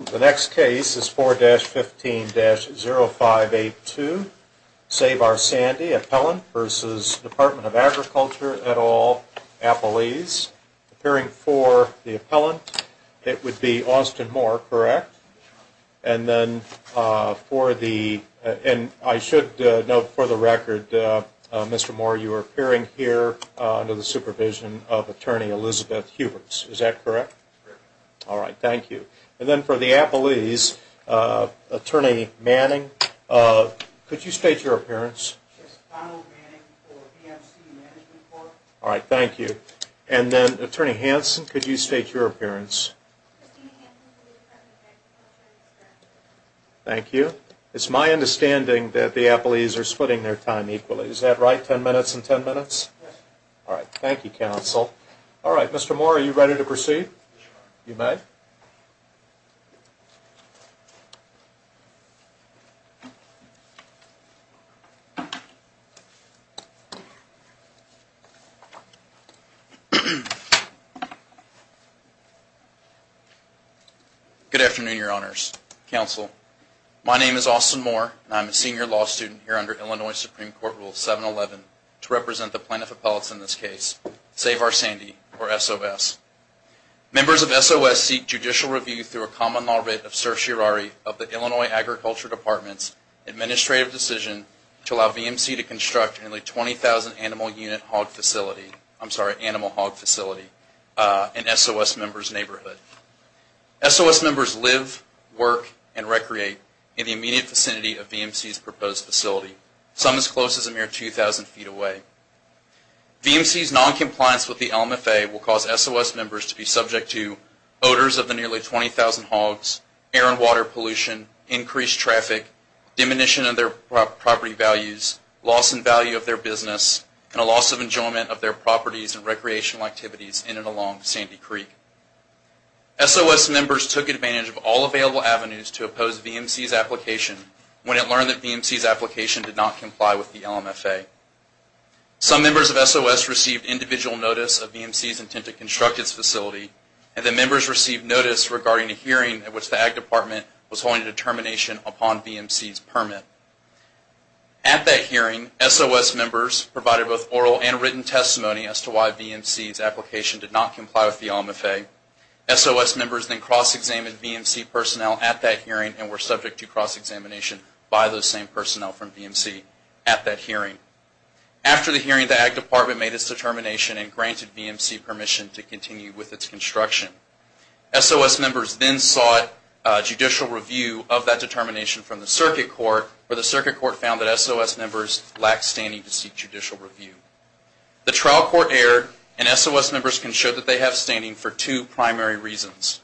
The next case is 4-15-0582, Save Our Sandy, Appellant v. Department of Agriculture et al., Appelese. Appearing for the appellant, it would be Austin Moore, correct? And then for the, and I should note for the record, Mr. Moore, you are appearing here under the supervision of Attorney Elizabeth Huberts, is that correct? Correct. All right, thank you. And then for the Appelese, Attorney Manning, could you state your appearance? Yes, Donald Manning for PMC Management Corp. All right, thank you. And then Attorney Hanson, could you state your appearance? Christine Hanson for the Department of Agriculture. Thank you. It's my understanding that the Appelese are splitting their time equally, is that right? Ten minutes and ten minutes? Yes. All right, thank you, Counsel. All right, Mr. Moore, are you ready to proceed? Sure. You may. Good afternoon, Your Honors. Counsel, my name is Austin Moore. I'm a senior law student here under Illinois Supreme Court Rule 711 to represent the plaintiff appellates in this case, Save Our Sandy, or SOS. Members of SOS seek judicial review through a common law writ of certiorari of the Illinois Agriculture Department's administrative decision to allow VMC to construct a nearly 20,000 animal unit hog facility, I'm sorry, SOS members live, work, and recreate in the immediate vicinity of VMC's proposed facility, some as close as a mere 2,000 feet away. VMC's noncompliance with the LMFA will cause SOS members to be subject to odors of the nearly 20,000 hogs, air and water pollution, increased traffic, diminution of their property values, loss in value of their business, and a loss of enjoyment of their properties and recreational activities in and along Sandy Creek. SOS members took advantage of all available avenues to oppose VMC's application when it learned that VMC's application did not comply with the LMFA. Some members of SOS received individual notice of VMC's intent to construct its facility, and the members received notice regarding a hearing at which the Ag Department was holding a determination upon VMC's permit. At that hearing, SOS members provided both oral and written testimony as to why VMC's application did not comply with the LMFA. SOS members then cross-examined VMC personnel at that hearing and were subject to cross-examination by those same personnel from VMC at that hearing. After the hearing, the Ag Department made its determination and granted VMC permission to continue with its construction. SOS members then sought judicial review of that determination from the Circuit Court, where the Circuit Court found that SOS members lacked standing to seek judicial review. The trial court erred, and SOS members can show that they have standing for two primary reasons.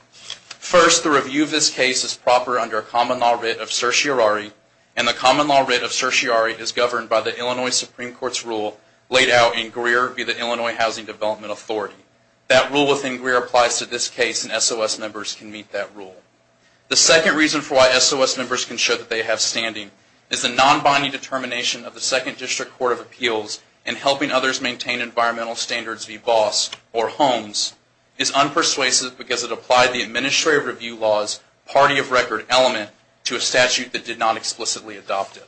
First, the review of this case is proper under a common law writ of certiorari, and the common law writ of certiorari is governed by the Illinois Supreme Court's rule laid out in Greer via the Illinois Housing Development Authority. That rule within Greer applies to this case, and SOS members can meet that rule. The second reason for why SOS members can show that they have standing is the non-binding determination of the Second District Court of Appeals in helping others maintain environmental standards v. BOSS or HOMES is unpersuasive because it applied the Administrative Review Law's party-of-record element to a statute that did not explicitly adopt it.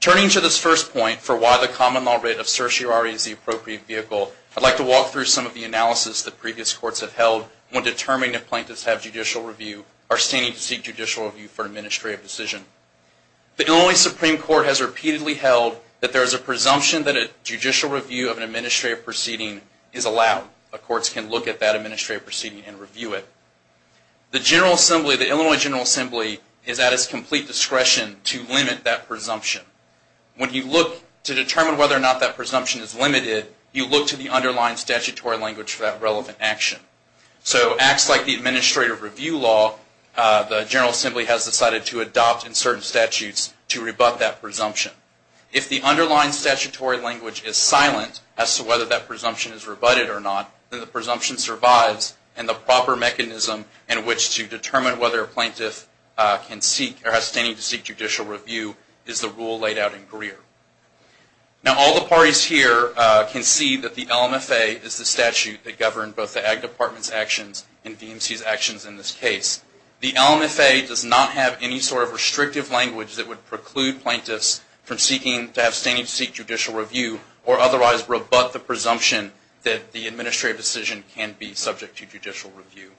Turning to this first point for why the common law writ of certiorari is the appropriate vehicle, I'd like to walk through some of the analysis that previous courts have held when determining if plaintiffs have judicial review or are standing to seek judicial review for an administrative decision. The Illinois Supreme Court has repeatedly held that there is a presumption that a judicial review of an administrative proceeding is allowed. Courts can look at that administrative proceeding and review it. The Illinois General Assembly is at its complete discretion to limit that presumption. When you look to determine whether or not that presumption is limited, you look to the underlying statutory language for that relevant action. So acts like the Administrative Review Law, the General Assembly has decided to adopt in certain statutes to rebut that presumption. If the underlying statutory language is silent as to whether that presumption is rebutted or not, then the presumption survives and the proper mechanism in which to determine whether a plaintiff can seek or has standing to seek judicial review is the rule laid out in Greer. Now all the parties here can see that the LMFA is the statute that governed both the Ag Department's actions and DMC's actions in this case. The LMFA does not have any sort of restrictive language that would preclude plaintiffs from seeking to have standing to seek judicial review or otherwise rebut the presumption that the administrative decision can be subject to judicial review.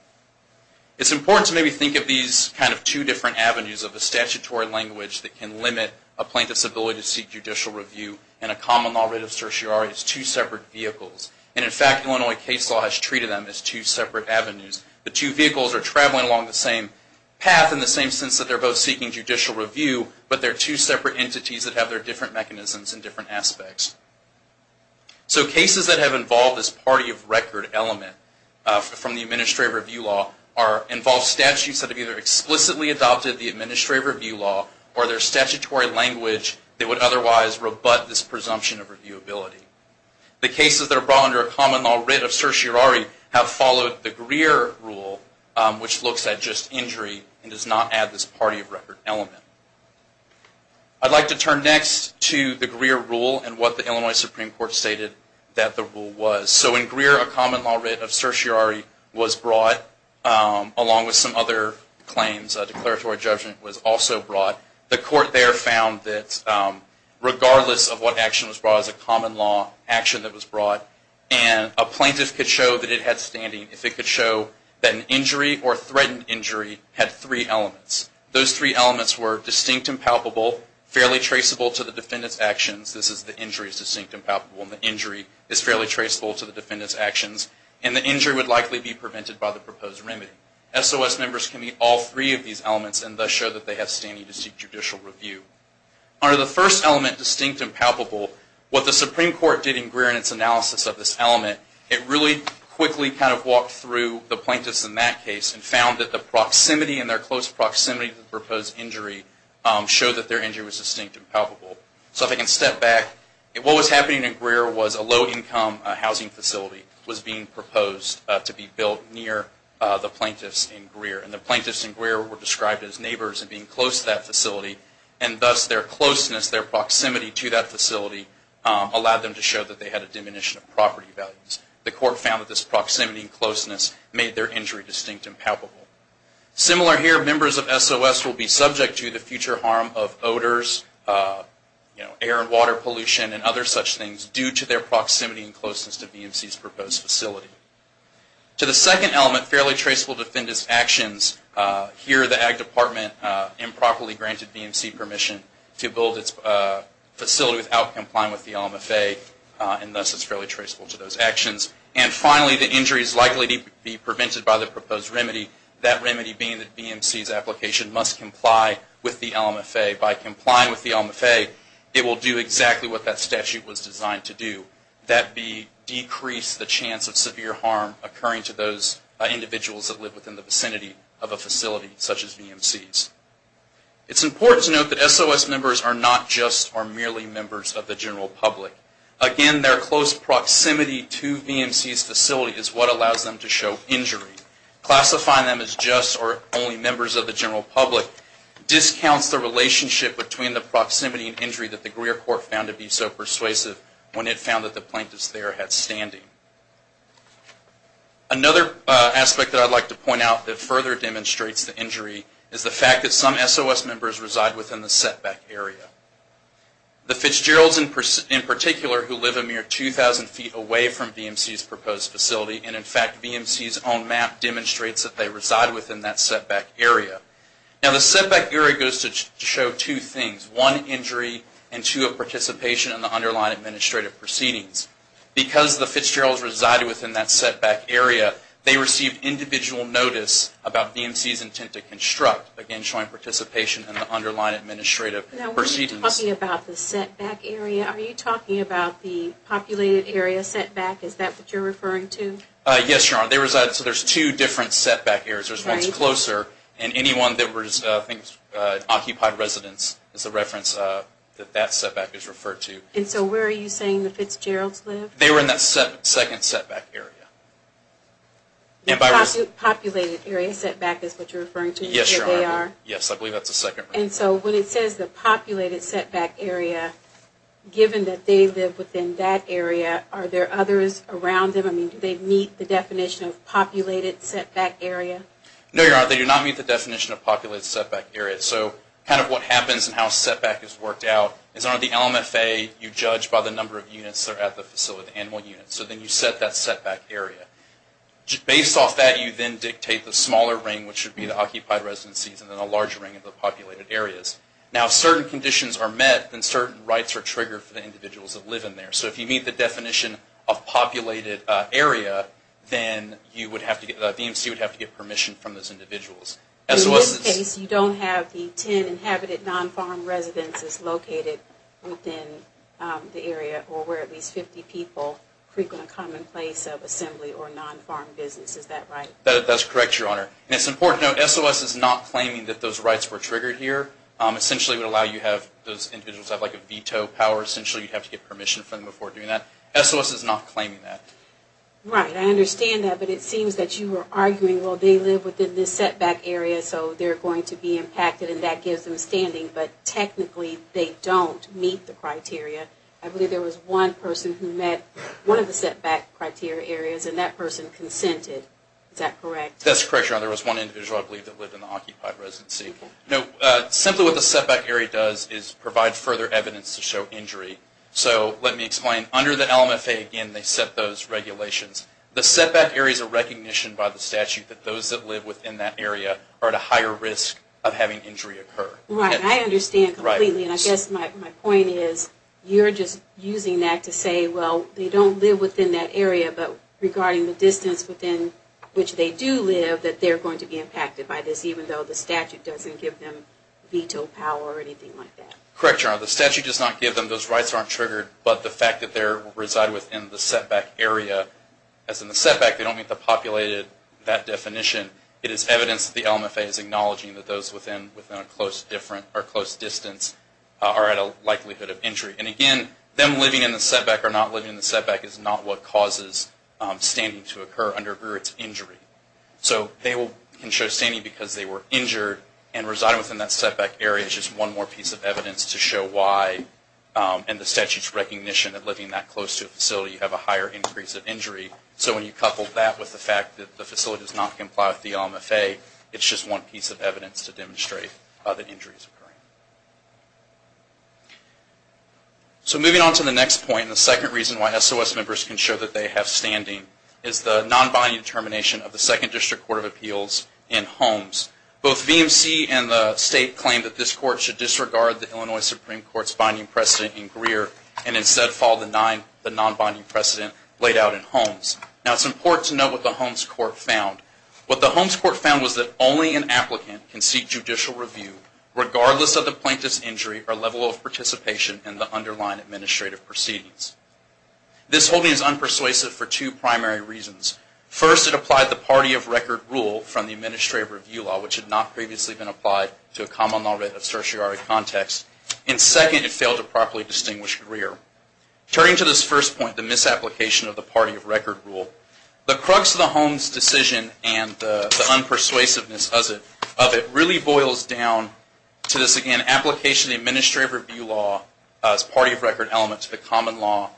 It's important to maybe think of these kind of two different avenues of a statutory language that can limit a plaintiff's ability to seek judicial review and a common law writ of certiorari as two separate vehicles. And in fact, Illinois case law has treated them as two separate avenues. The two vehicles are traveling along the same path in the same sense that they're both seeking judicial review, but they're two separate entities that have their different mechanisms and different aspects. So cases that have involved this party of record element from the administrative review law involve statutes that have either explicitly adopted the administrative review law or their statutory language that would otherwise rebut this presumption of reviewability. The cases that are brought under a common law writ of certiorari have followed the Greer rule, which looks at just injury and does not add this party of record element. I'd like to turn next to the Greer rule and what the Illinois Supreme Court stated that the rule was. So in Greer, a common law writ of certiorari was brought along with some other claims. A declaratory judgment was also brought. The court there found that regardless of what action was brought, it was a common law action that was brought. And a plaintiff could show that it had standing if it could show that an injury or threatened injury had three elements. Those three elements were distinct and palpable, fairly traceable to the defendant's actions. This is the injury is distinct and palpable and the injury is fairly traceable to the defendant's actions. And the injury would likely be prevented by the proposed remedy. SOS members can meet all three of these elements and thus show that they have standing to seek judicial review. Under the first element, distinct and palpable, what the Supreme Court did in Greer in its analysis of this element, it really quickly kind of walked through the plaintiffs in that case and found that the proximity and their close proximity to the proposed injury showed that their injury was distinct and palpable. So if I can step back, what was happening in Greer was a low-income housing facility was being proposed to be built near the plaintiffs in Greer. And the plaintiffs in Greer were described as neighbors and being close to that facility, and thus their closeness, their proximity to that facility allowed them to show that they had a diminution of property values. The court found that this proximity and closeness made their injury distinct and palpable. Similar here, members of SOS will be subject to the future harm of odors, air and water pollution, and other such things due to their proximity and closeness to BMC's proposed facility. To the second element, fairly traceable to defendant's actions, here the Ag Department improperly granted BMC permission to build its facility without complying with the LMFA, and thus it's fairly traceable to those actions. And finally, the injury is likely to be prevented by the proposed remedy, that remedy being that BMC's application must comply with the LMFA. By complying with the LMFA, it will do exactly what that statute was designed to do, that be, decrease the chance of severe harm occurring to those individuals that live within the vicinity of a facility such as BMC's. It's important to note that SOS members are not just or merely members of the general public. Again, their close proximity to BMC's facility is what allows them to show injury. Classifying them as just or only members of the general public discounts the relationship between the proximity and injury that the Greer Court found to be so persuasive when it found that the plaintiffs there had standing. Another aspect that I'd like to point out that further demonstrates the injury is the fact that some SOS members reside within the setback area. The Fitzgeralds, in particular, who live a mere 2,000 feet away from BMC's proposed facility, and in fact, BMC's own map demonstrates that they reside within that setback area. Now, the setback area goes to show two things. One, injury, and two, a participation in the underlying administrative proceedings. Because the Fitzgeralds resided within that setback area, they received individual notice about BMC's intent to construct, again, showing participation in the underlying administrative proceedings. Now, when you're talking about the setback area, are you talking about the populated area setback? Is that what you're referring to? Yes, Your Honor. So there's two different setback areas. There's one that's closer, and any one that occupies residence is a reference that that setback is referred to. And so where are you saying the Fitzgeralds live? They were in that second setback area. Populated area setback is what you're referring to? Yes, Your Honor. Yes, I believe that's the second one. And so when it says the populated setback area, given that they live within that area, are there others around them? I mean, do they meet the definition of populated setback area? No, Your Honor, they do not meet the definition of populated setback area. So kind of what happens and how setback is worked out is under the LMFA, you judge by the number of units that are at the facility, the annual units. So then you set that setback area. Based off that, you then dictate the smaller ring, which would be the occupied residencies, and then a larger ring of the populated areas. Now, if certain conditions are met, then certain rights are triggered for the individuals that live in there. So if you meet the definition of populated area, then you would have to get, the DMC would have to get permission from those individuals. So in this case, you don't have the 10 inhabited non-farm residences located within the area or where at least 50 people frequent a commonplace of assembly or non-farm business. Is that right? That's correct, Your Honor. And it's important to note SOS is not claiming that those rights were triggered here. Essentially, it would allow you to have those individuals have like a veto power. Essentially, you'd have to get permission from them before doing that. SOS is not claiming that. Right. I understand that. But it seems that you are arguing, well, they live within this setback area, so they're going to be impacted and that gives them standing. But technically, they don't meet the criteria. I believe there was one person who met one of the setback criteria areas and that person consented. Is that correct? That's correct, Your Honor. There was one individual, I believe, that lived in the occupied residency. Simply what the setback area does is provide further evidence to show injury. So let me explain. Under the LMFA, again, they set those regulations. The setback area is a recognition by the statute that those that live within that area are at a higher risk of having injury occur. Right. I understand completely. And I guess my point is you're just using that to say, well, they don't live within that area. But regarding the distance within which they do live, that they're going to be impacted by this, even though the statute doesn't give them veto power or anything like that. Correct, Your Honor. The statute does not give them. Those rights aren't triggered. But the fact that they reside within the setback area, as in the setback, they don't meet the populated, that definition. It is evidence that the LMFA is acknowledging that those within a close distance are at a likelihood of injury. And, again, them living in the setback or not living in the setback is not what causes standing to occur under its injury. So they can show standing because they were injured, and residing within that setback area is just one more piece of evidence to show why, in the statute's recognition of living that close to a facility, you have a higher increase of injury. So when you couple that with the fact that the facility does not comply with So moving on to the next point, the second reason why SOS members can show that they have standing is the non-binding determination of the Second District Court of Appeals in Holmes. Both VMC and the State claim that this Court should disregard the Illinois Supreme Court's binding precedent in Greer, and instead follow the non-binding precedent laid out in Holmes. Now it's important to know what the Holmes Court found. What the Holmes Court found was that only an applicant can seek judicial review regardless of the plaintiff's injury or level of participation in the underlying administrative proceedings. This holding is unpersuasive for two primary reasons. First, it applied the party of record rule from the administrative review law, which had not previously been applied to a common law rate of certiorari context. And, second, it failed to properly distinguish Greer. Turning to this first point, the misapplication of the party of record rule, the crux of the Holmes decision and the unpersuasiveness of it really boils down to this, again, application of the administrative review law as party of record element to the common law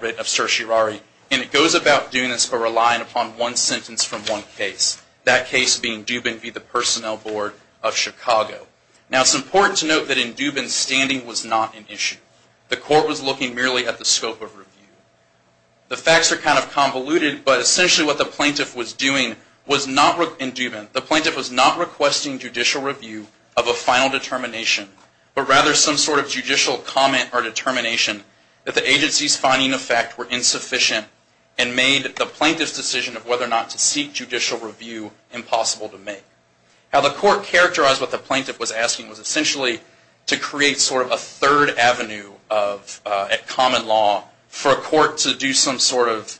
rate of certiorari. And it goes about doing this by relying upon one sentence from one case, that case being Dubin v. the Personnel Board of Chicago. Now it's important to note that in Dubin's standing was not an issue. The Court was looking merely at the scope of review. The facts are kind of convoluted, but essentially what the plaintiff was doing in Dubin, the plaintiff was not requesting judicial review of a final determination, but rather some sort of judicial comment or determination that the agency's finding of fact were insufficient and made the plaintiff's decision of whether or not to seek judicial review impossible to make. How the Court characterized what the plaintiff was asking was essentially to create sort of a third avenue at common law for a court to do some sort of,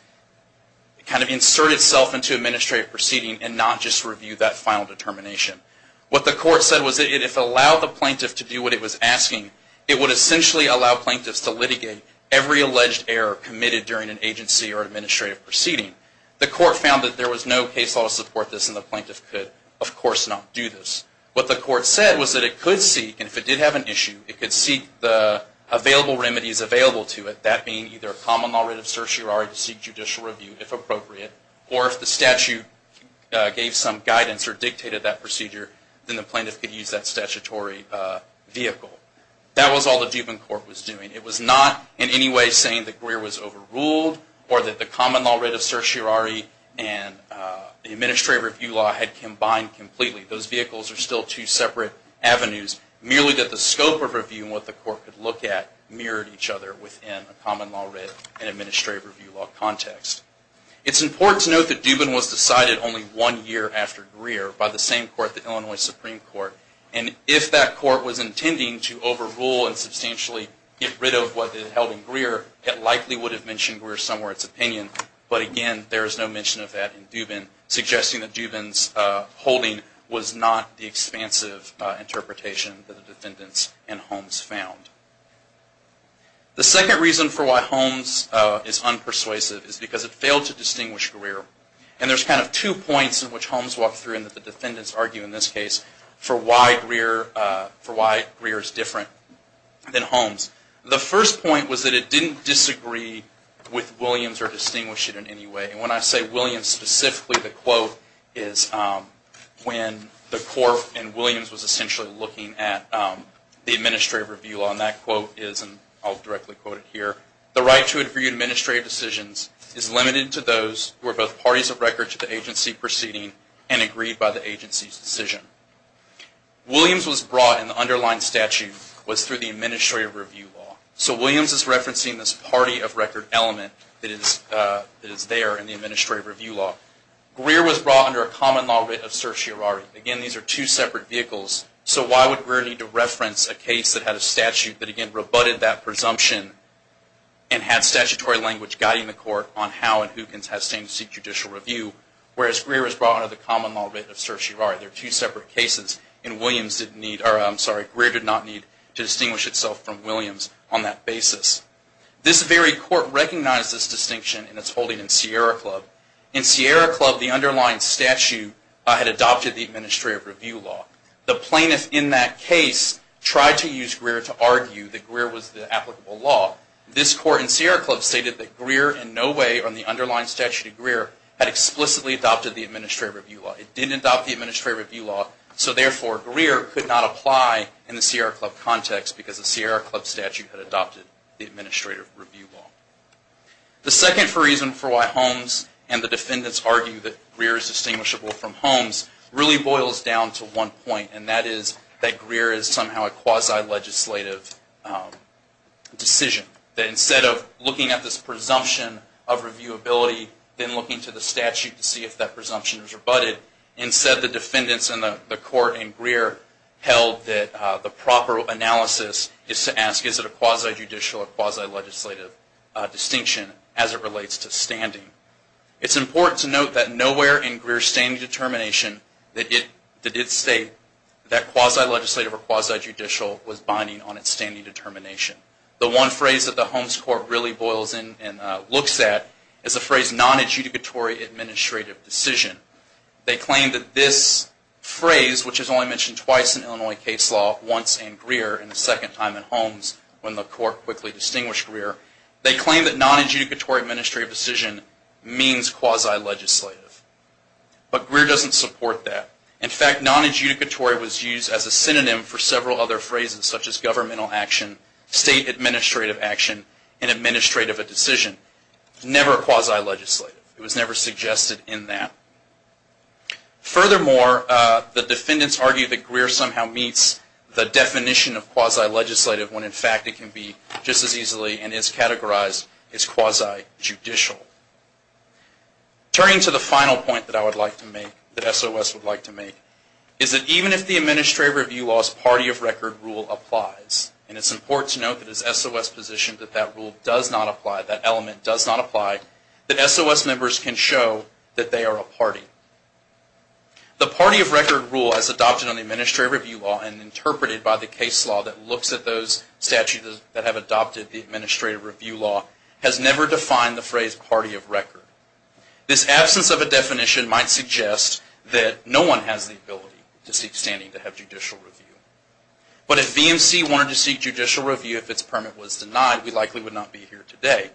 kind of insert itself into administrative proceeding and not just review that final determination. What the Court said was that if it allowed the plaintiff to do what it was asking, it would essentially allow plaintiffs to litigate every alleged error committed during an agency or administrative proceeding. The Court found that there was no case law to support this and the plaintiff could, of course, not do this. What the Court said was that it could seek, and if it did have an issue, it could seek the available remedies available to it, that being either a common law writ of certiorari to seek judicial review, if appropriate, or if the statute gave some guidance or dictated that procedure, then the plaintiff could use that statutory vehicle. That was all the Dubin Court was doing. It was not in any way saying that Greer was overruled or that the common law writ of certiorari and the administrative review law had combined completely. Those vehicles are still two separate avenues, merely that the scope of review and what the Court could look at mirrored each other within a common law writ and administrative review law context. It's important to note that Dubin was decided only one year after Greer by the same Court, the Illinois Supreme Court, and if that Court was intending to overrule and substantially get rid of what it held in Greer, it likely would have mentioned Greer somewhere in its opinion. But again, there is no mention of that in Dubin, suggesting that Dubin's argument was not the expansive interpretation that the defendants and Holmes found. The second reason for why Holmes is unpersuasive is because it failed to distinguish Greer. And there's kind of two points in which Holmes walked through and that the defendants argue in this case for why Greer is different than Holmes. The first point was that it didn't disagree with Williams or distinguish it in any way. And when I say Williams specifically, the quote is when the Court and Williams was essentially looking at the administrative review law. And that quote is, and I'll directly quote it here, the right to agree to administrative decisions is limited to those who are both parties of record to the agency proceeding and agreed by the agency's decision. Williams was brought and the underlying statute was through the administrative review law. So Williams is referencing this party of record element that is there in the administrative review law. Greer was brought under a common law writ of certiorari. Again, these are two separate vehicles. So why would Greer need to reference a case that had a statute that, again, rebutted that presumption and had statutory language guiding the Court on how and who can test and seek judicial review, whereas Greer was brought under the common law writ of certiorari. They're two separate cases and Williams didn't need, or I'm sorry, Greer did not need to distinguish itself from Williams on that basis. This very Court recognized this distinction in its holding in Sierra Club. In Sierra Club, the underlying statute had adopted the administrative review law. The plaintiff in that case tried to use Greer to argue that Greer was the applicable law. This Court in Sierra Club stated that Greer in no way on the underlying statute of Greer had explicitly adopted the administrative review law. It didn't adopt the administrative review law, so therefore Greer could not apply in the Sierra Club context because the administrative review law. The second reason for why Holmes and the defendants argue that Greer is distinguishable from Holmes really boils down to one point, and that is that Greer is somehow a quasi-legislative decision. Instead of looking at this presumption of reviewability, then looking to the statute to see if that presumption is rebutted, instead the defendants in the Court in Greer held that the proper analysis is to ask is it a quasi-judicial or quasi-legislative distinction as it relates to standing. It's important to note that nowhere in Greer's standing determination did it state that quasi-legislative or quasi-judicial was binding on its standing determination. The one phrase that the Holmes Court really boils in and looks at is the phrase non-adjudicatory administrative decision. They claim that this phrase, which is only mentioned twice in Illinois case law, once in Greer and the second time in Holmes when the Court quickly distinguished Greer, they claim that non-adjudicatory administrative decision means quasi-legislative. But Greer doesn't support that. In fact, non-adjudicatory was used as a synonym for several other phrases such as governmental action, state administrative action, and administrative of a decision. Never quasi-legislative. It was never suggested in that. Furthermore, the defendants argue that Greer somehow meets the definition of quasi-legislative when, in fact, it can be just as easily and is categorized as quasi-judicial. Turning to the final point that I would like to make, that SOS would like to make, is that even if the Administrative Review Law's party of record rule applies, and it's important to note that it's SOS position that that rule does not apply, that element does not apply, that SOS members can show that they are a party. The party of record rule, as adopted on the Administrative Review Law and interpreted by the case law that looks at those statutes that have adopted the Administrative Review Law, has never defined the phrase party of record. This absence of a definition might suggest that no one has the ability to seek standing to have judicial review. But if BMC wanted to seek judicial review, if its permit was denied, we likely would not be here today.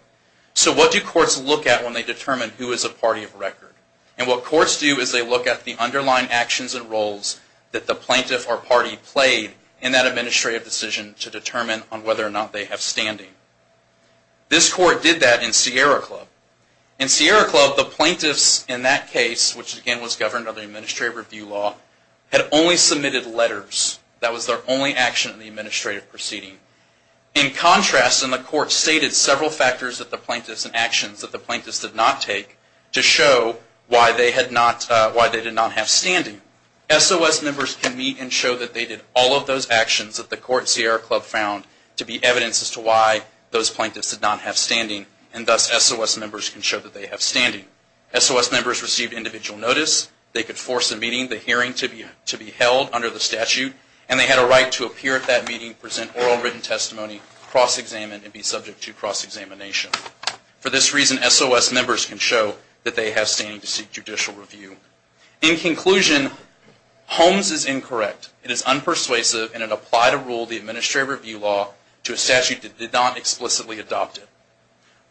So what do courts look at when they determine who is a party of record? And what courts do is they look at the underlying actions and roles that the plaintiff or party played in that administrative decision to determine on whether or not they have standing. This court did that in Sierra Club. In Sierra Club, the plaintiffs in that case, which again was governed by the Administrative Review Law, had only submitted letters. That was their only action in the administrative proceeding. In contrast, and the court stated several factors that the plaintiffs and actions that the plaintiffs did not take to show why they did not have standing, SOS members can meet and show that they did all of those actions that the court at Sierra Club found to be evidence as to why those plaintiffs did not have standing, and thus SOS members can show that they have standing. SOS members received individual notice. They could force a meeting, the hearing to be held under the statute, and they had a right to appear at that meeting, present oral written testimony, cross-examine, and be subject to cross-examination. For this reason, SOS members can show that they have standing to seek judicial review. In conclusion, Holmes is incorrect. It is unpersuasive, and it applied a rule of the Administrative Review Law to a statute that did not explicitly adopt it.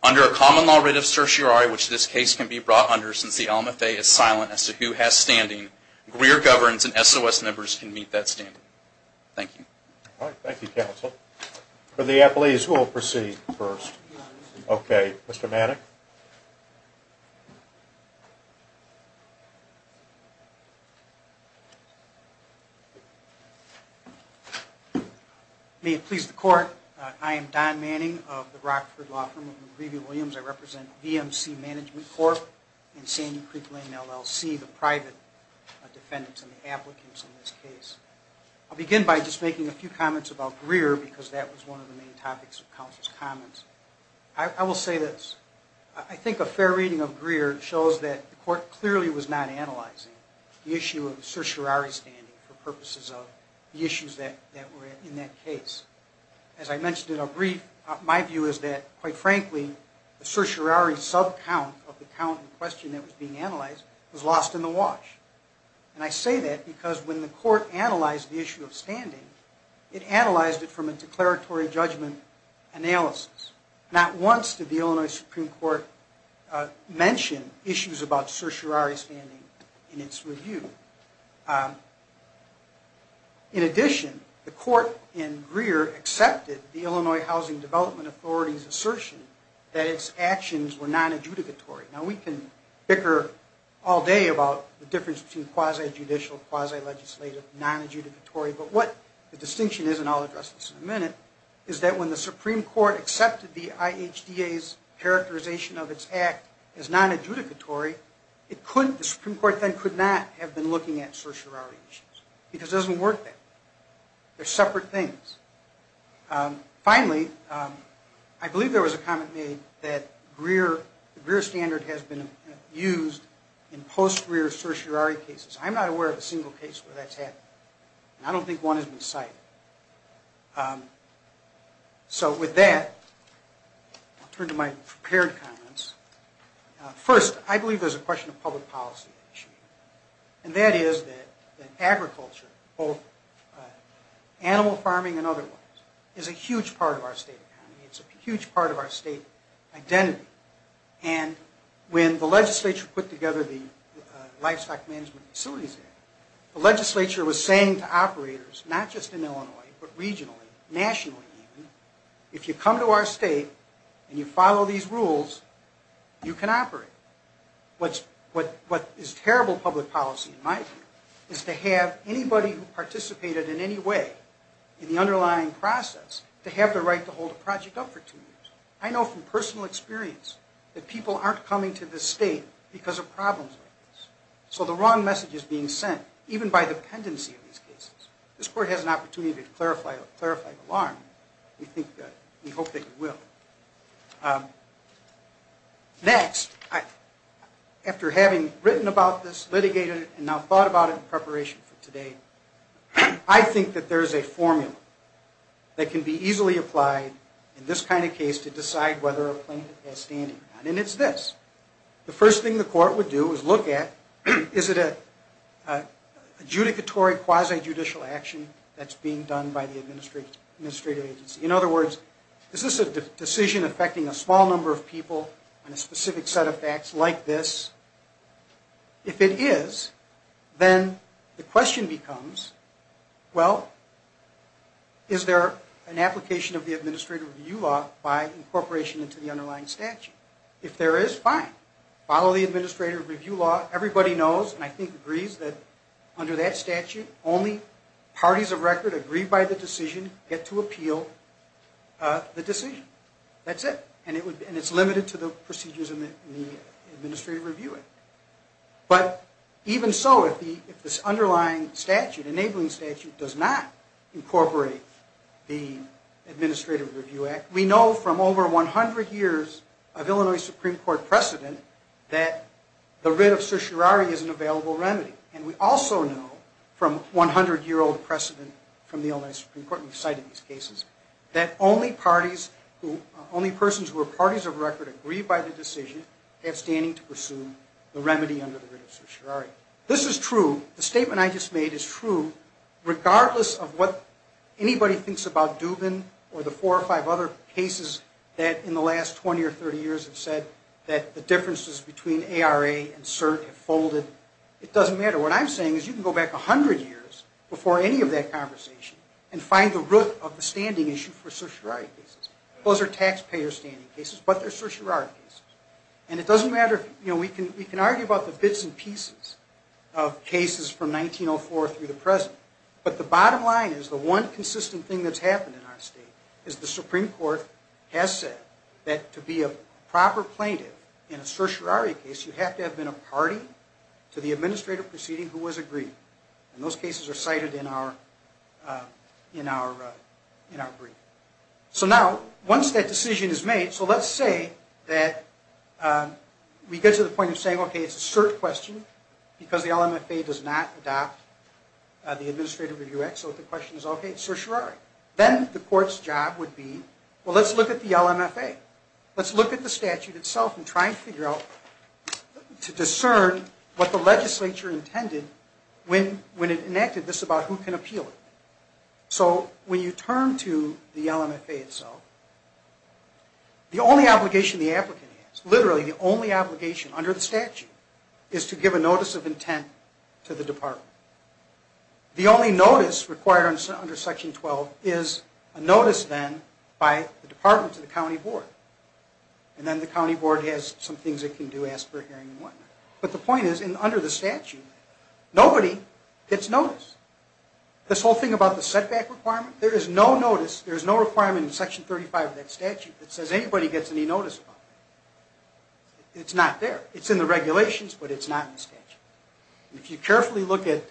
Under a common law writ of certiorari, which this case can be brought under since the alma fae is silent as to who has standing, Greer governs and SOS members can meet that standing. Thank you. All right. Thank you, counsel. For the appellees, who will proceed first? Okay. Mr. Manning? May it please the court, I am Don Manning of the Rockford Law Firm. I represent VMC Management Corp. and Sandy Creek Lane LLC, the private defendants and the applicants in this case. I'll begin by just making a few comments about Greer because that was one of the main topics of counsel's comments. I will say this. I think a fair reading of Greer shows that the court clearly was not analyzing the issue of certiorari standing for purposes of the issues that were in that case. As I mentioned in a brief, my view is that, quite frankly, the certiorari subcount of the count in question that was being analyzed was lost in the wash. And I say that because when the court analyzed the issue of standing, it analyzed it from a declaratory judgment analysis. Not once did the Illinois Supreme Court mention issues about certiorari standing in its review. In addition, the court in Greer accepted the Illinois Housing Development Authority's assertion that its actions were non-adjudicatory. Now, we can bicker all day about the difference between quasi-judicial, quasi-legislative, non-adjudicatory, but what the distinction is, and I'll address this in a minute, is that when the Supreme Court accepted the IHDA's characterization of its act as non-adjudicatory, the Supreme Court then could not have been looking at certiorari issues because it doesn't work that way. They're separate things. Finally, I believe there was a comment made that the Greer standard has been used in post-Greer certiorari cases. I'm not aware of a single case where that's happened, and I don't think one has been cited. So with that, I'll turn to my prepared comments. First, I believe there's a question of public policy issue, and that is that animal farming and otherwise is a huge part of our state economy. It's a huge part of our state identity. And when the legislature put together the Livestock Management Facilities Act, the legislature was saying to operators, not just in Illinois, but regionally, nationally even, if you come to our state and you follow these rules, you can operate. What is terrible public policy, in my view, is to have anybody who works in the underlying process to have the right to hold a project up for two years. I know from personal experience that people aren't coming to this state because of problems like this. So the wrong message is being sent, even by dependency of these cases. This court has an opportunity to clarify the alarm. We hope that it will. Next, after having written about this, litigated it, and now thought about it in preparation for today, I think that there is a formula that can be easily applied in this kind of case to decide whether a plaintiff has standing or not. And it's this. The first thing the court would do is look at, is it a judicatory quasi-judicial action that's being done by the administrative agency? In other words, is this a decision affecting a small number of people and a specific set of facts like this? If it is, then the question becomes, well, is there an application of the administrative review law by incorporation into the underlying statute? If there is, fine. Follow the administrative review law. Everybody knows, and I think agrees, that under that statute, only parties of record agreed by the decision get to appeal the decision. That's it. And it's limited to the procedures in the administrative review act. But even so, if this underlying statute, enabling statute, does not incorporate the administrative review act, we know from over 100 years of Illinois Supreme Court precedent that the writ of certiorari is an available remedy. And we also know from 100-year-old precedent from the Illinois Supreme Court, we've cited these cases, that only parties who, only persons who are parties of record agreed by the decision have standing to pursue the remedy under the writ of certiorari. This is true. The statement I just made is true regardless of what anybody thinks about Dubin or the four or five other cases that in the last 20 or 30 years have said that the differences between ARA and cert have folded. It doesn't matter. What I'm saying is you can go back 100 years before any of that conversation and find the root of the standing issue for certiorari cases. Those are taxpayer standing cases, but they're certiorari cases. And it doesn't matter if, you know, we can argue about the bits and pieces of cases from 1904 through the present, but the bottom line is the one consistent thing that's happened in our state is the Supreme Court has said that to be a proper plaintiff in a certiorari case, you have to have been a party to the administrative proceeding who was agreed. And those cases are cited in our brief. So now, once that decision is made, so let's say that we get to the point of saying, okay, it's a cert question because the LMFA does not adopt the Administrative Review Act, so the question is, okay, it's certiorari. Then the court's job would be, well, let's look at the LMFA. Let's look at the statute itself and try and figure out to discern what the issue is. When it enacted, this is about who can appeal it. So when you turn to the LMFA itself, the only obligation the applicant has, literally the only obligation under the statute, is to give a notice of intent to the department. The only notice required under Section 12 is a notice then by the department to the county board. And then the county board has some things it can do, ask for a hearing and whatnot. But the point is, under the statute, nobody gets notice. This whole thing about the setback requirement, there is no notice, there is no requirement in Section 35 of that statute that says anybody gets any notice about it. It's not there. It's in the regulations, but it's not in the statute. If you carefully look at,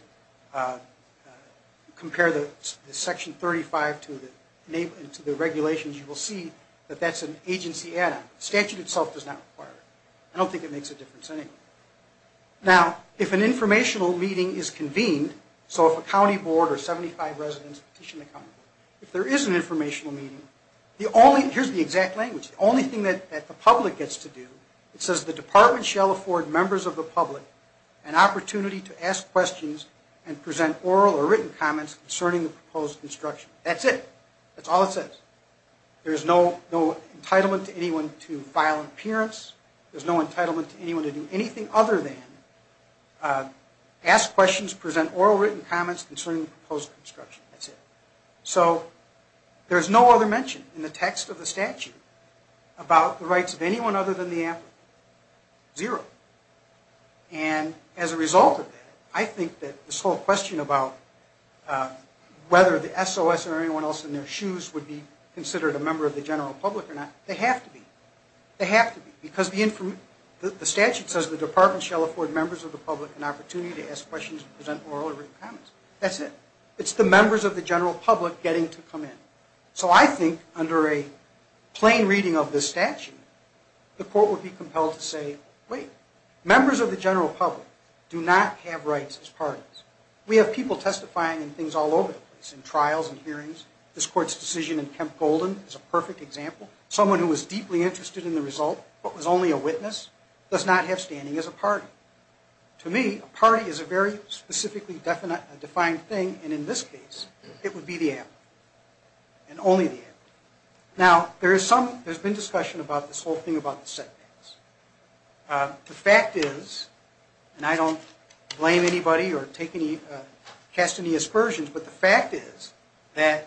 compare the Section 35 to the regulations, you will see that that's an agency add-on. The statute itself does not require it. I don't think it makes a difference anyway. Now, if an informational meeting is convened, so if a county board or 75 residents petition the county board, if there is an informational meeting, here's the exact language, the only thing that the public gets to do, it says the department shall afford members of the public an opportunity to ask questions and present oral or written comments concerning the proposed construction. That's it. That's all it says. There's no entitlement to anyone to file an appearance. There's no entitlement to anyone to do anything other than ask questions, present oral or written comments concerning the proposed construction. That's it. So there's no other mention in the text of the statute about the rights of anyone other than the applicant. Zero. And as a result of that, I think that this whole question about whether the applicant is considered a member of the general public or not, they have to be. They have to be, because the statute says the department shall afford members of the public an opportunity to ask questions and present oral or written comments. That's it. It's the members of the general public getting to come in. So I think under a plain reading of this statute, the court would be compelled to say, wait, members of the general public do not have rights as parties. We have people testifying in things all over the place, in trials and cases. John Golden is a perfect example. Someone who was deeply interested in the result but was only a witness does not have standing as a party. To me, a party is a very specifically defined thing, and in this case, it would be the applicant and only the applicant. Now, there's been discussion about this whole thing about the setbacks. The fact is, and I don't blame anybody or cast any aspersions, but the fact is, the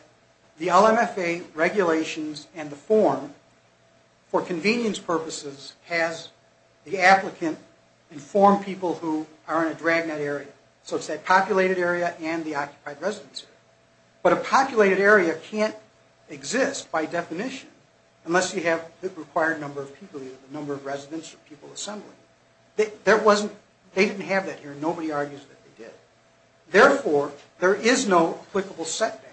FFA regulations and the form, for convenience purposes, has the applicant inform people who are in a drag net area. So it's that populated area and the occupied residence area. But a populated area can't exist by definition unless you have the required number of people, the number of residents or people assembling. They didn't have that here. Nobody argues that they did. Therefore, there is no applicable setback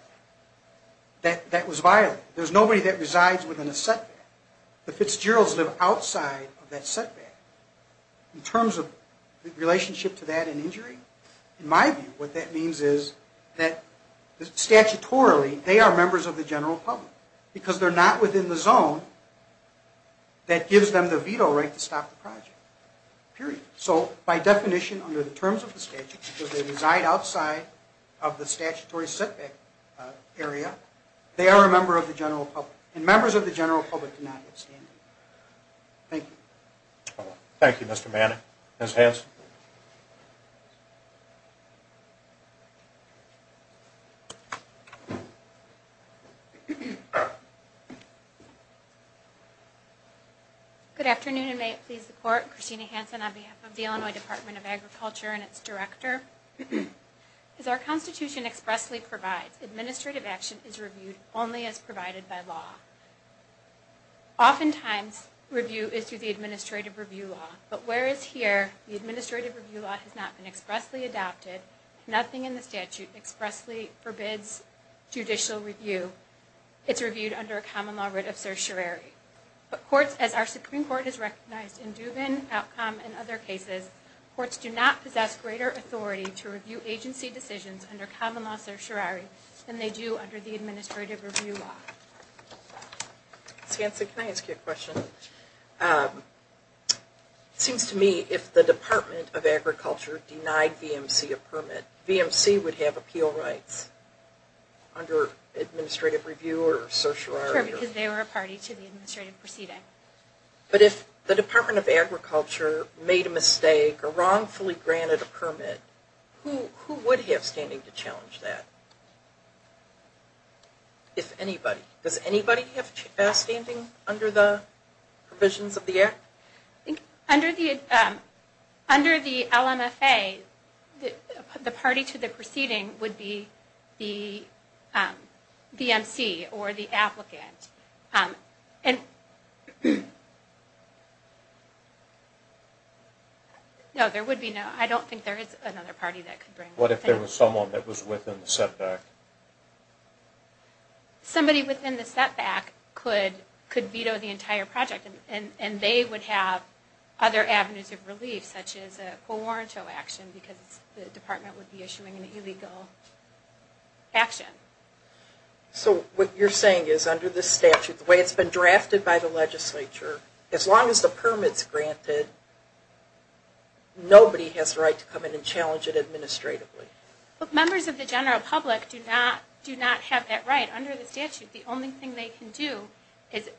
that was violated. There's nobody that resides within a setback. The Fitzgeralds live outside of that setback. In terms of relationship to that and injury, in my view, what that means is that statutorily, they are members of the general public because they're not within the zone that gives them the veto right to stop the project, period. So by definition, under the terms of the statute, because they reside outside of the statutory setback area, they are a member of the general public. And members of the general public do not have standing. Thank you. Thank you, Mr. Manning. Ms. Hanson. Good afternoon, and may it please the court. Christina Hanson on behalf of the Illinois Department of Agriculture and its director. As our Constitution expressly provides, administrative action is reviewed only as provided by law. Oftentimes, review is through the administrative review law. But whereas here, the administrative review law has not been expressly adopted, nothing in the statute expressly forbids judicial review. It's reviewed under a common law writ of certiorari. But courts, as our Supreme Court has recognized in Dubin, Outcombe, and other cases, courts do not possess greater authority to review agency decisions under common law certiorari than they do under the administrative review law. Ms. Hanson, can I ask you a question? It seems to me if the Department of Agriculture denied VMC a permit, VMC would have appeal rights under administrative review or certiorari. Sure, because they were a party to the administrative proceeding. But if the Department of Agriculture made a mistake or wrongfully granted a permit, who would have standing to challenge that? If anybody. Does anybody have standing under the provisions of the Act? Under the LMFA, the party to the proceeding would be the VMC or the applicant. No, there would be no. I don't think there is another party that could bring that. What if there was someone that was within the setback? Somebody within the setback could veto the entire project, and they would have other avenues of relief, such as a co-warrant action, because the Department would be issuing an illegal action. So what you're saying is under this statute, the way it's been drafted by the legislature, as long as the permit's granted, nobody has the right to come in and challenge it administratively. Members of the general public do not have that right under the statute. The only thing they can do is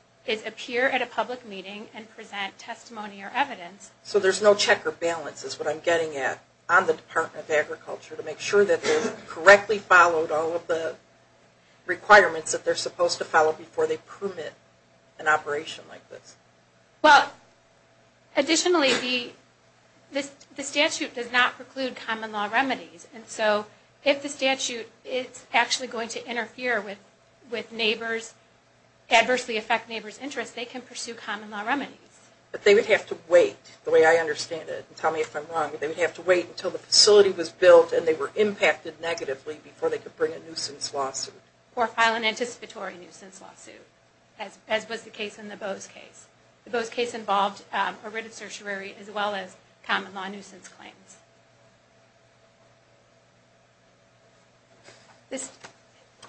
appear at a public meeting and present testimony or evidence. So there's no check or balance is what I'm getting at on the Department of Agriculture to make sure that they've correctly followed all of the requirements that they're supposed to follow before they permit an operation like this. Well, additionally, the statute does not preclude common law remedies. And so if the statute is actually going to interfere with neighbors, adversely affect neighbors' interests, they can pursue common law remedies. But they would have to wait, the way I understand it. Tell me if I'm wrong. They would have to wait until the facility was built and they were impacted negatively before they could bring a nuisance lawsuit. Or file an anticipatory nuisance lawsuit, as was the case in the Bowes case. The Bowes case involved a writ of certiorari as well as common law nuisance claims.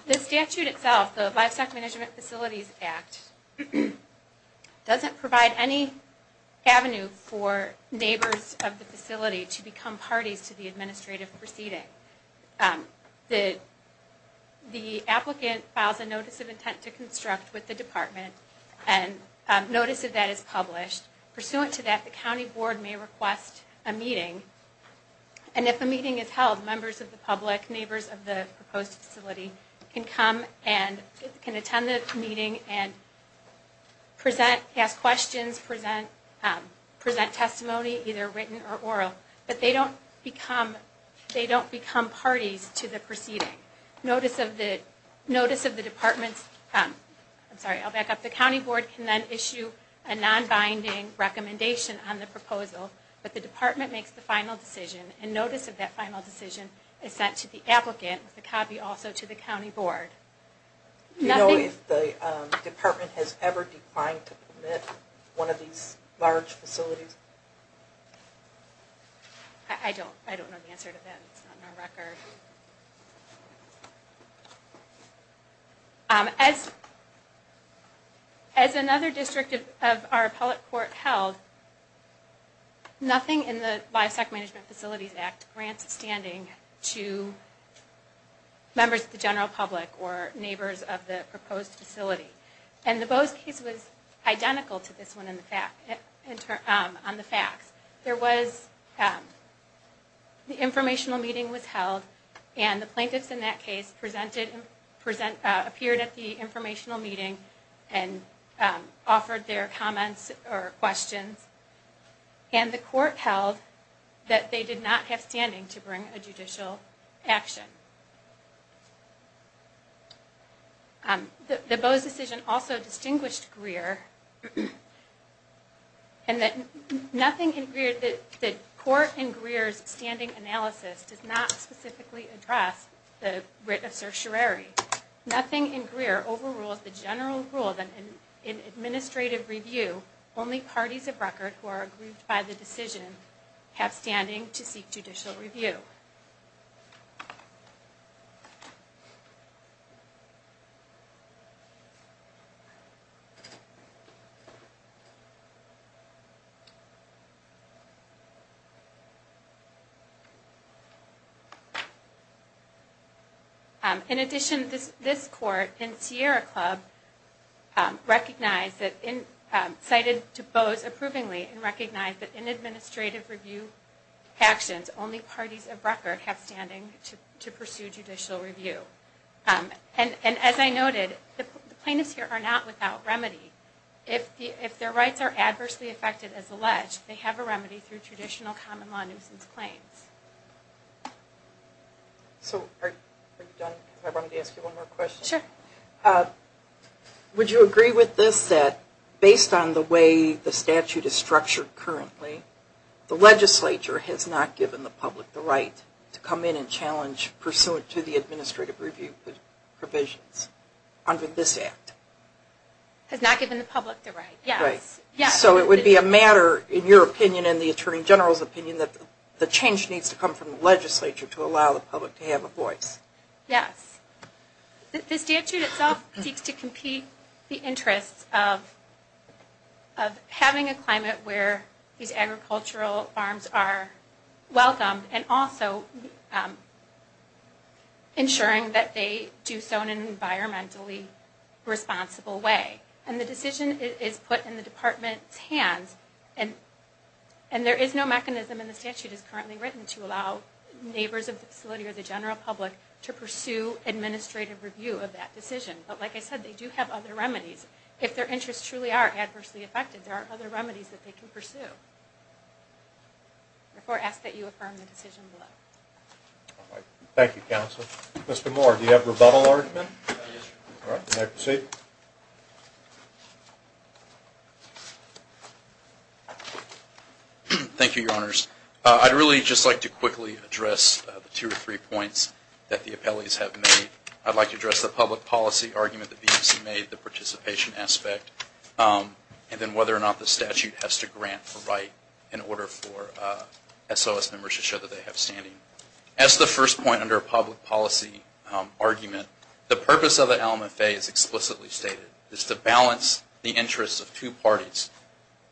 The statute itself, the Livestock Management Facilities Act, doesn't provide any avenue for neighbors of the facility to become parties to the administrative proceeding. The applicant files a notice of intent to construct with the department and notice of that is published. Pursuant to that, the county board may request a meeting. And if a meeting is held, members of the public, neighbors of the proposed facility, can come and can attend the meeting and present, ask questions, present testimony, either written or oral. But they don't become parties to the proceeding. I'm sorry, I'll back up. The county board can then issue a non-binding recommendation on the proposal, but the department makes the final decision. And notice of that final decision is sent to the applicant with a copy also to the county board. Do you know if the department has ever declined to permit one of these large facilities? I don't know the answer to that. It's not in our record. As another district of our appellate court held, nothing in the Livestock Management Facilities Act grants standing to members of the general public or neighbors of the proposed facility. And the Bose case was identical to this one on the facts. There was, the informational meeting was held, and the plaintiffs in that case presented, appeared at the informational meeting and offered their comments or questions. And the court held that they did not have standing to bring a judicial action. The Bose decision also distinguished Greer and that nothing in Greer, the court in Greer's standing analysis does not specifically address the writ of certiorari. Nothing in Greer overrules the general rule that in administrative review, only parties of record who are approved by the decision have standing to seek judicial review. In addition, this court in Sierra Club recognized that in, cited to Bose approvingly and recognized that in administrative review actions, only parties of record have standing to pursue judicial review. And as I noted, the plaintiffs here are not without remedy. If their rights are adversely affected as alleged, they have a remedy through traditional common law nuisance claims. Would you agree with this that based on the way the statute is structured currently, the legislature has not given the public the right to come in and challenge pursuant to the administrative review provisions under this act? Has not given the public the right, yes. So it would be a matter, in your opinion and the Attorney General's opinion, that the change needs to come from the legislature to allow the public to have a voice. Yes. The statute itself seeks to compete the interests of having a climate where these agricultural farms are welcomed and also ensuring that they do so in an environmentally responsible way. And the decision is put in the department's hands and there is no mechanism in the statute as currently written to allow neighbors of the facility or the general public to pursue administrative review of that decision. But like I said, they do have other remedies. If their interests truly are adversely affected, there are other remedies that they can pursue. Therefore, I ask that you affirm the decision below. Thank you, Counsel. Mr. Moore, do you have a rebuttal argument? Yes, Your Honor. All right, may I proceed? Thank you, Your Honors. I'd really just like to quickly address the two or three points that the appellees have made. I'd like to address the public policy argument that VMC made, the participation aspect, and then whether or not the statute has to grant a right in order for SOS members to show that they have standing. As the first point under a public policy argument, the purpose of the Alma Fe is explicitly stated. It's to balance the interests of two parties,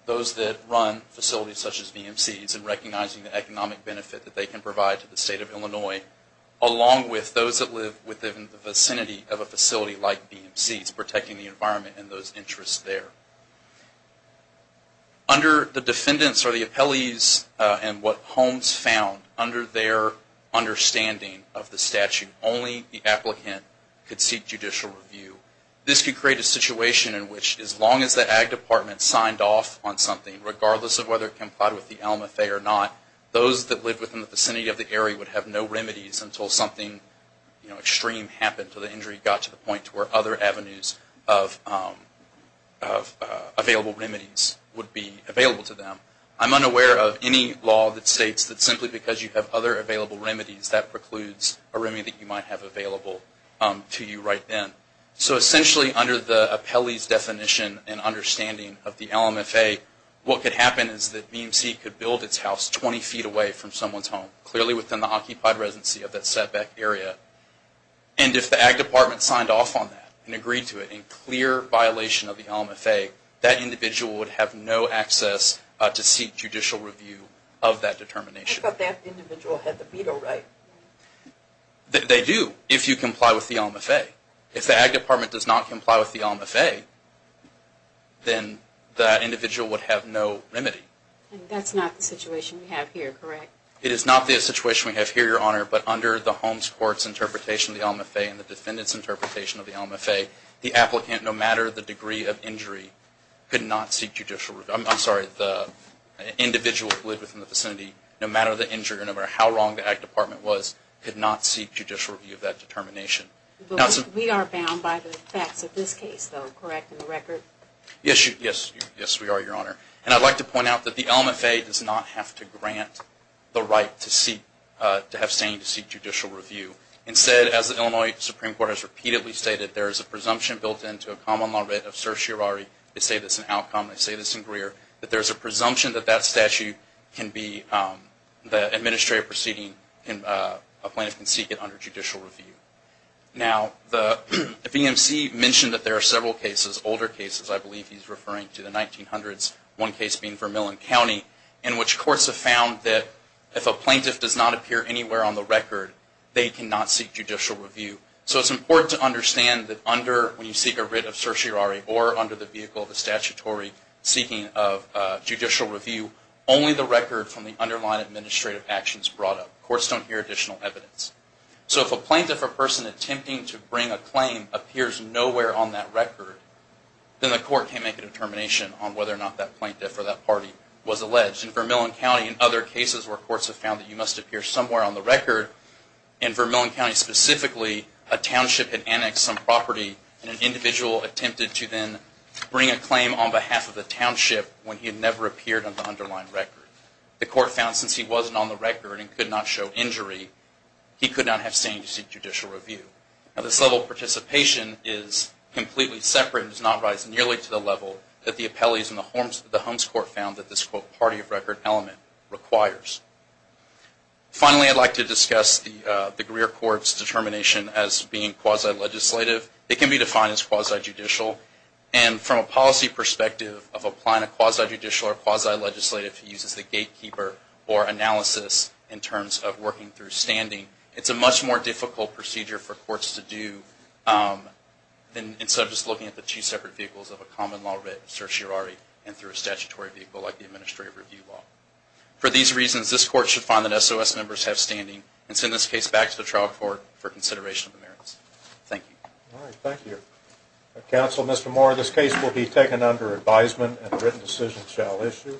those that run facilities such as VMC's and recognizing the economic benefit that they can provide to the State of Illinois along with those that live within the vicinity of a facility like VMC's, protecting the environment and those interests there. Under the defendants or the appellees and what Holmes found, under their understanding of the statute, only the applicant could seek judicial review. This could create a situation in which as long as the Ag Department signed off on something, regardless of whether it complied with the Alma Fe or not, those that lived within the vicinity of the area would have no remedies until something extreme happened, until the injury got to the point where other avenues of available remedies would be available to them. I'm unaware of any law that states that simply because you have other available remedies, that precludes a remedy that you might have available to you right then. So essentially under the appellee's definition and understanding of the Alma Fe, what could happen is that VMC could build its house 20 feet away from someone's home, clearly within the occupied residency of that setback area. And if the Ag Department signed off on that and agreed to it in clear violation of the Alma Fe, that individual would have no access to seek judicial review of that determination. I thought that individual had the veto right. They do, if you comply with the Alma Fe. If the Ag Department does not comply with the Alma Fe, then that individual would have no remedy. And that's not the situation we have here, correct? It is not the situation we have here, Your Honor, but under the Holmes Court's interpretation of the Alma Fe and the defendant's interpretation of the Alma Fe, the applicant, no matter the degree of injury, could not seek judicial review. I'm sorry, the individual who lived within the vicinity, no matter the injury or no matter how wrong the Ag Department was, could not seek judicial review of that determination. We are bound by the facts of this case, though, correct, in the record? Yes, we are, Your Honor. And I'd like to point out that the Alma Fe does not have to grant the right to have standing to seek judicial review. Instead, as the Illinois Supreme Court has repeatedly stated, there is a presumption built into a common law writ of certiorari, they say this in Outcome, they say this in Greer, that there is a presumption that that statute can be, the administrative proceeding, a plaintiff can seek it under judicial review. Now, the BMC mentioned that there are several cases, older cases, I believe he's referring to the 1900s, one case being Vermillon County, in which courts have found that if a plaintiff does not appear anywhere on the record, they cannot seek judicial review. So it's important to understand that under, when you seek a writ of certiorari, or under the vehicle of a statutory seeking of judicial review, only the record from the underlying administrative actions brought up. Courts don't hear additional evidence. So if a plaintiff or person attempting to bring a claim appears nowhere on that record, then the court can't make a determination on whether or not that plaintiff or that party was alleged. In Vermillon County and other cases where courts have found that you must appear somewhere on the record, in Vermillon County specifically, a township had annexed some property, and an individual attempted to then bring a claim on behalf of the township when he had never appeared on the underlying record. The court found since he wasn't on the record and could not show injury, he could not have standing to seek judicial review. Now, this level of participation is completely separate and does not rise nearly to the level that the appellees in the Holmes Court found that this, quote, party of record element requires. Finally, I'd like to discuss the Greer Court's determination as being quasi-legislative. It can be defined as quasi-judicial. And from a policy perspective of applying a quasi-judicial or quasi-legislative, it uses the gatekeeper or analysis in terms of working through standing. It's a much more difficult procedure for courts to do instead of just looking at the two separate vehicles of a common law writ, certiorari, and through a statutory vehicle like the administrative review law. For these reasons, this court should find that SOS members have standing and send this case back to the trial court for consideration of the merits. Thank you. All right. Thank you. Counsel, Mr. Moore, this case will be taken under advisement and a written decision shall issue.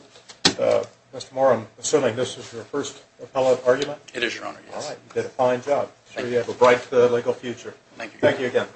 Mr. Moore, I'm assuming this is your first appellate argument? It is, Your Honor. All right. You did a fine job. Thank you. I'm sure you have a bright legal future. Thank you. Thank you again.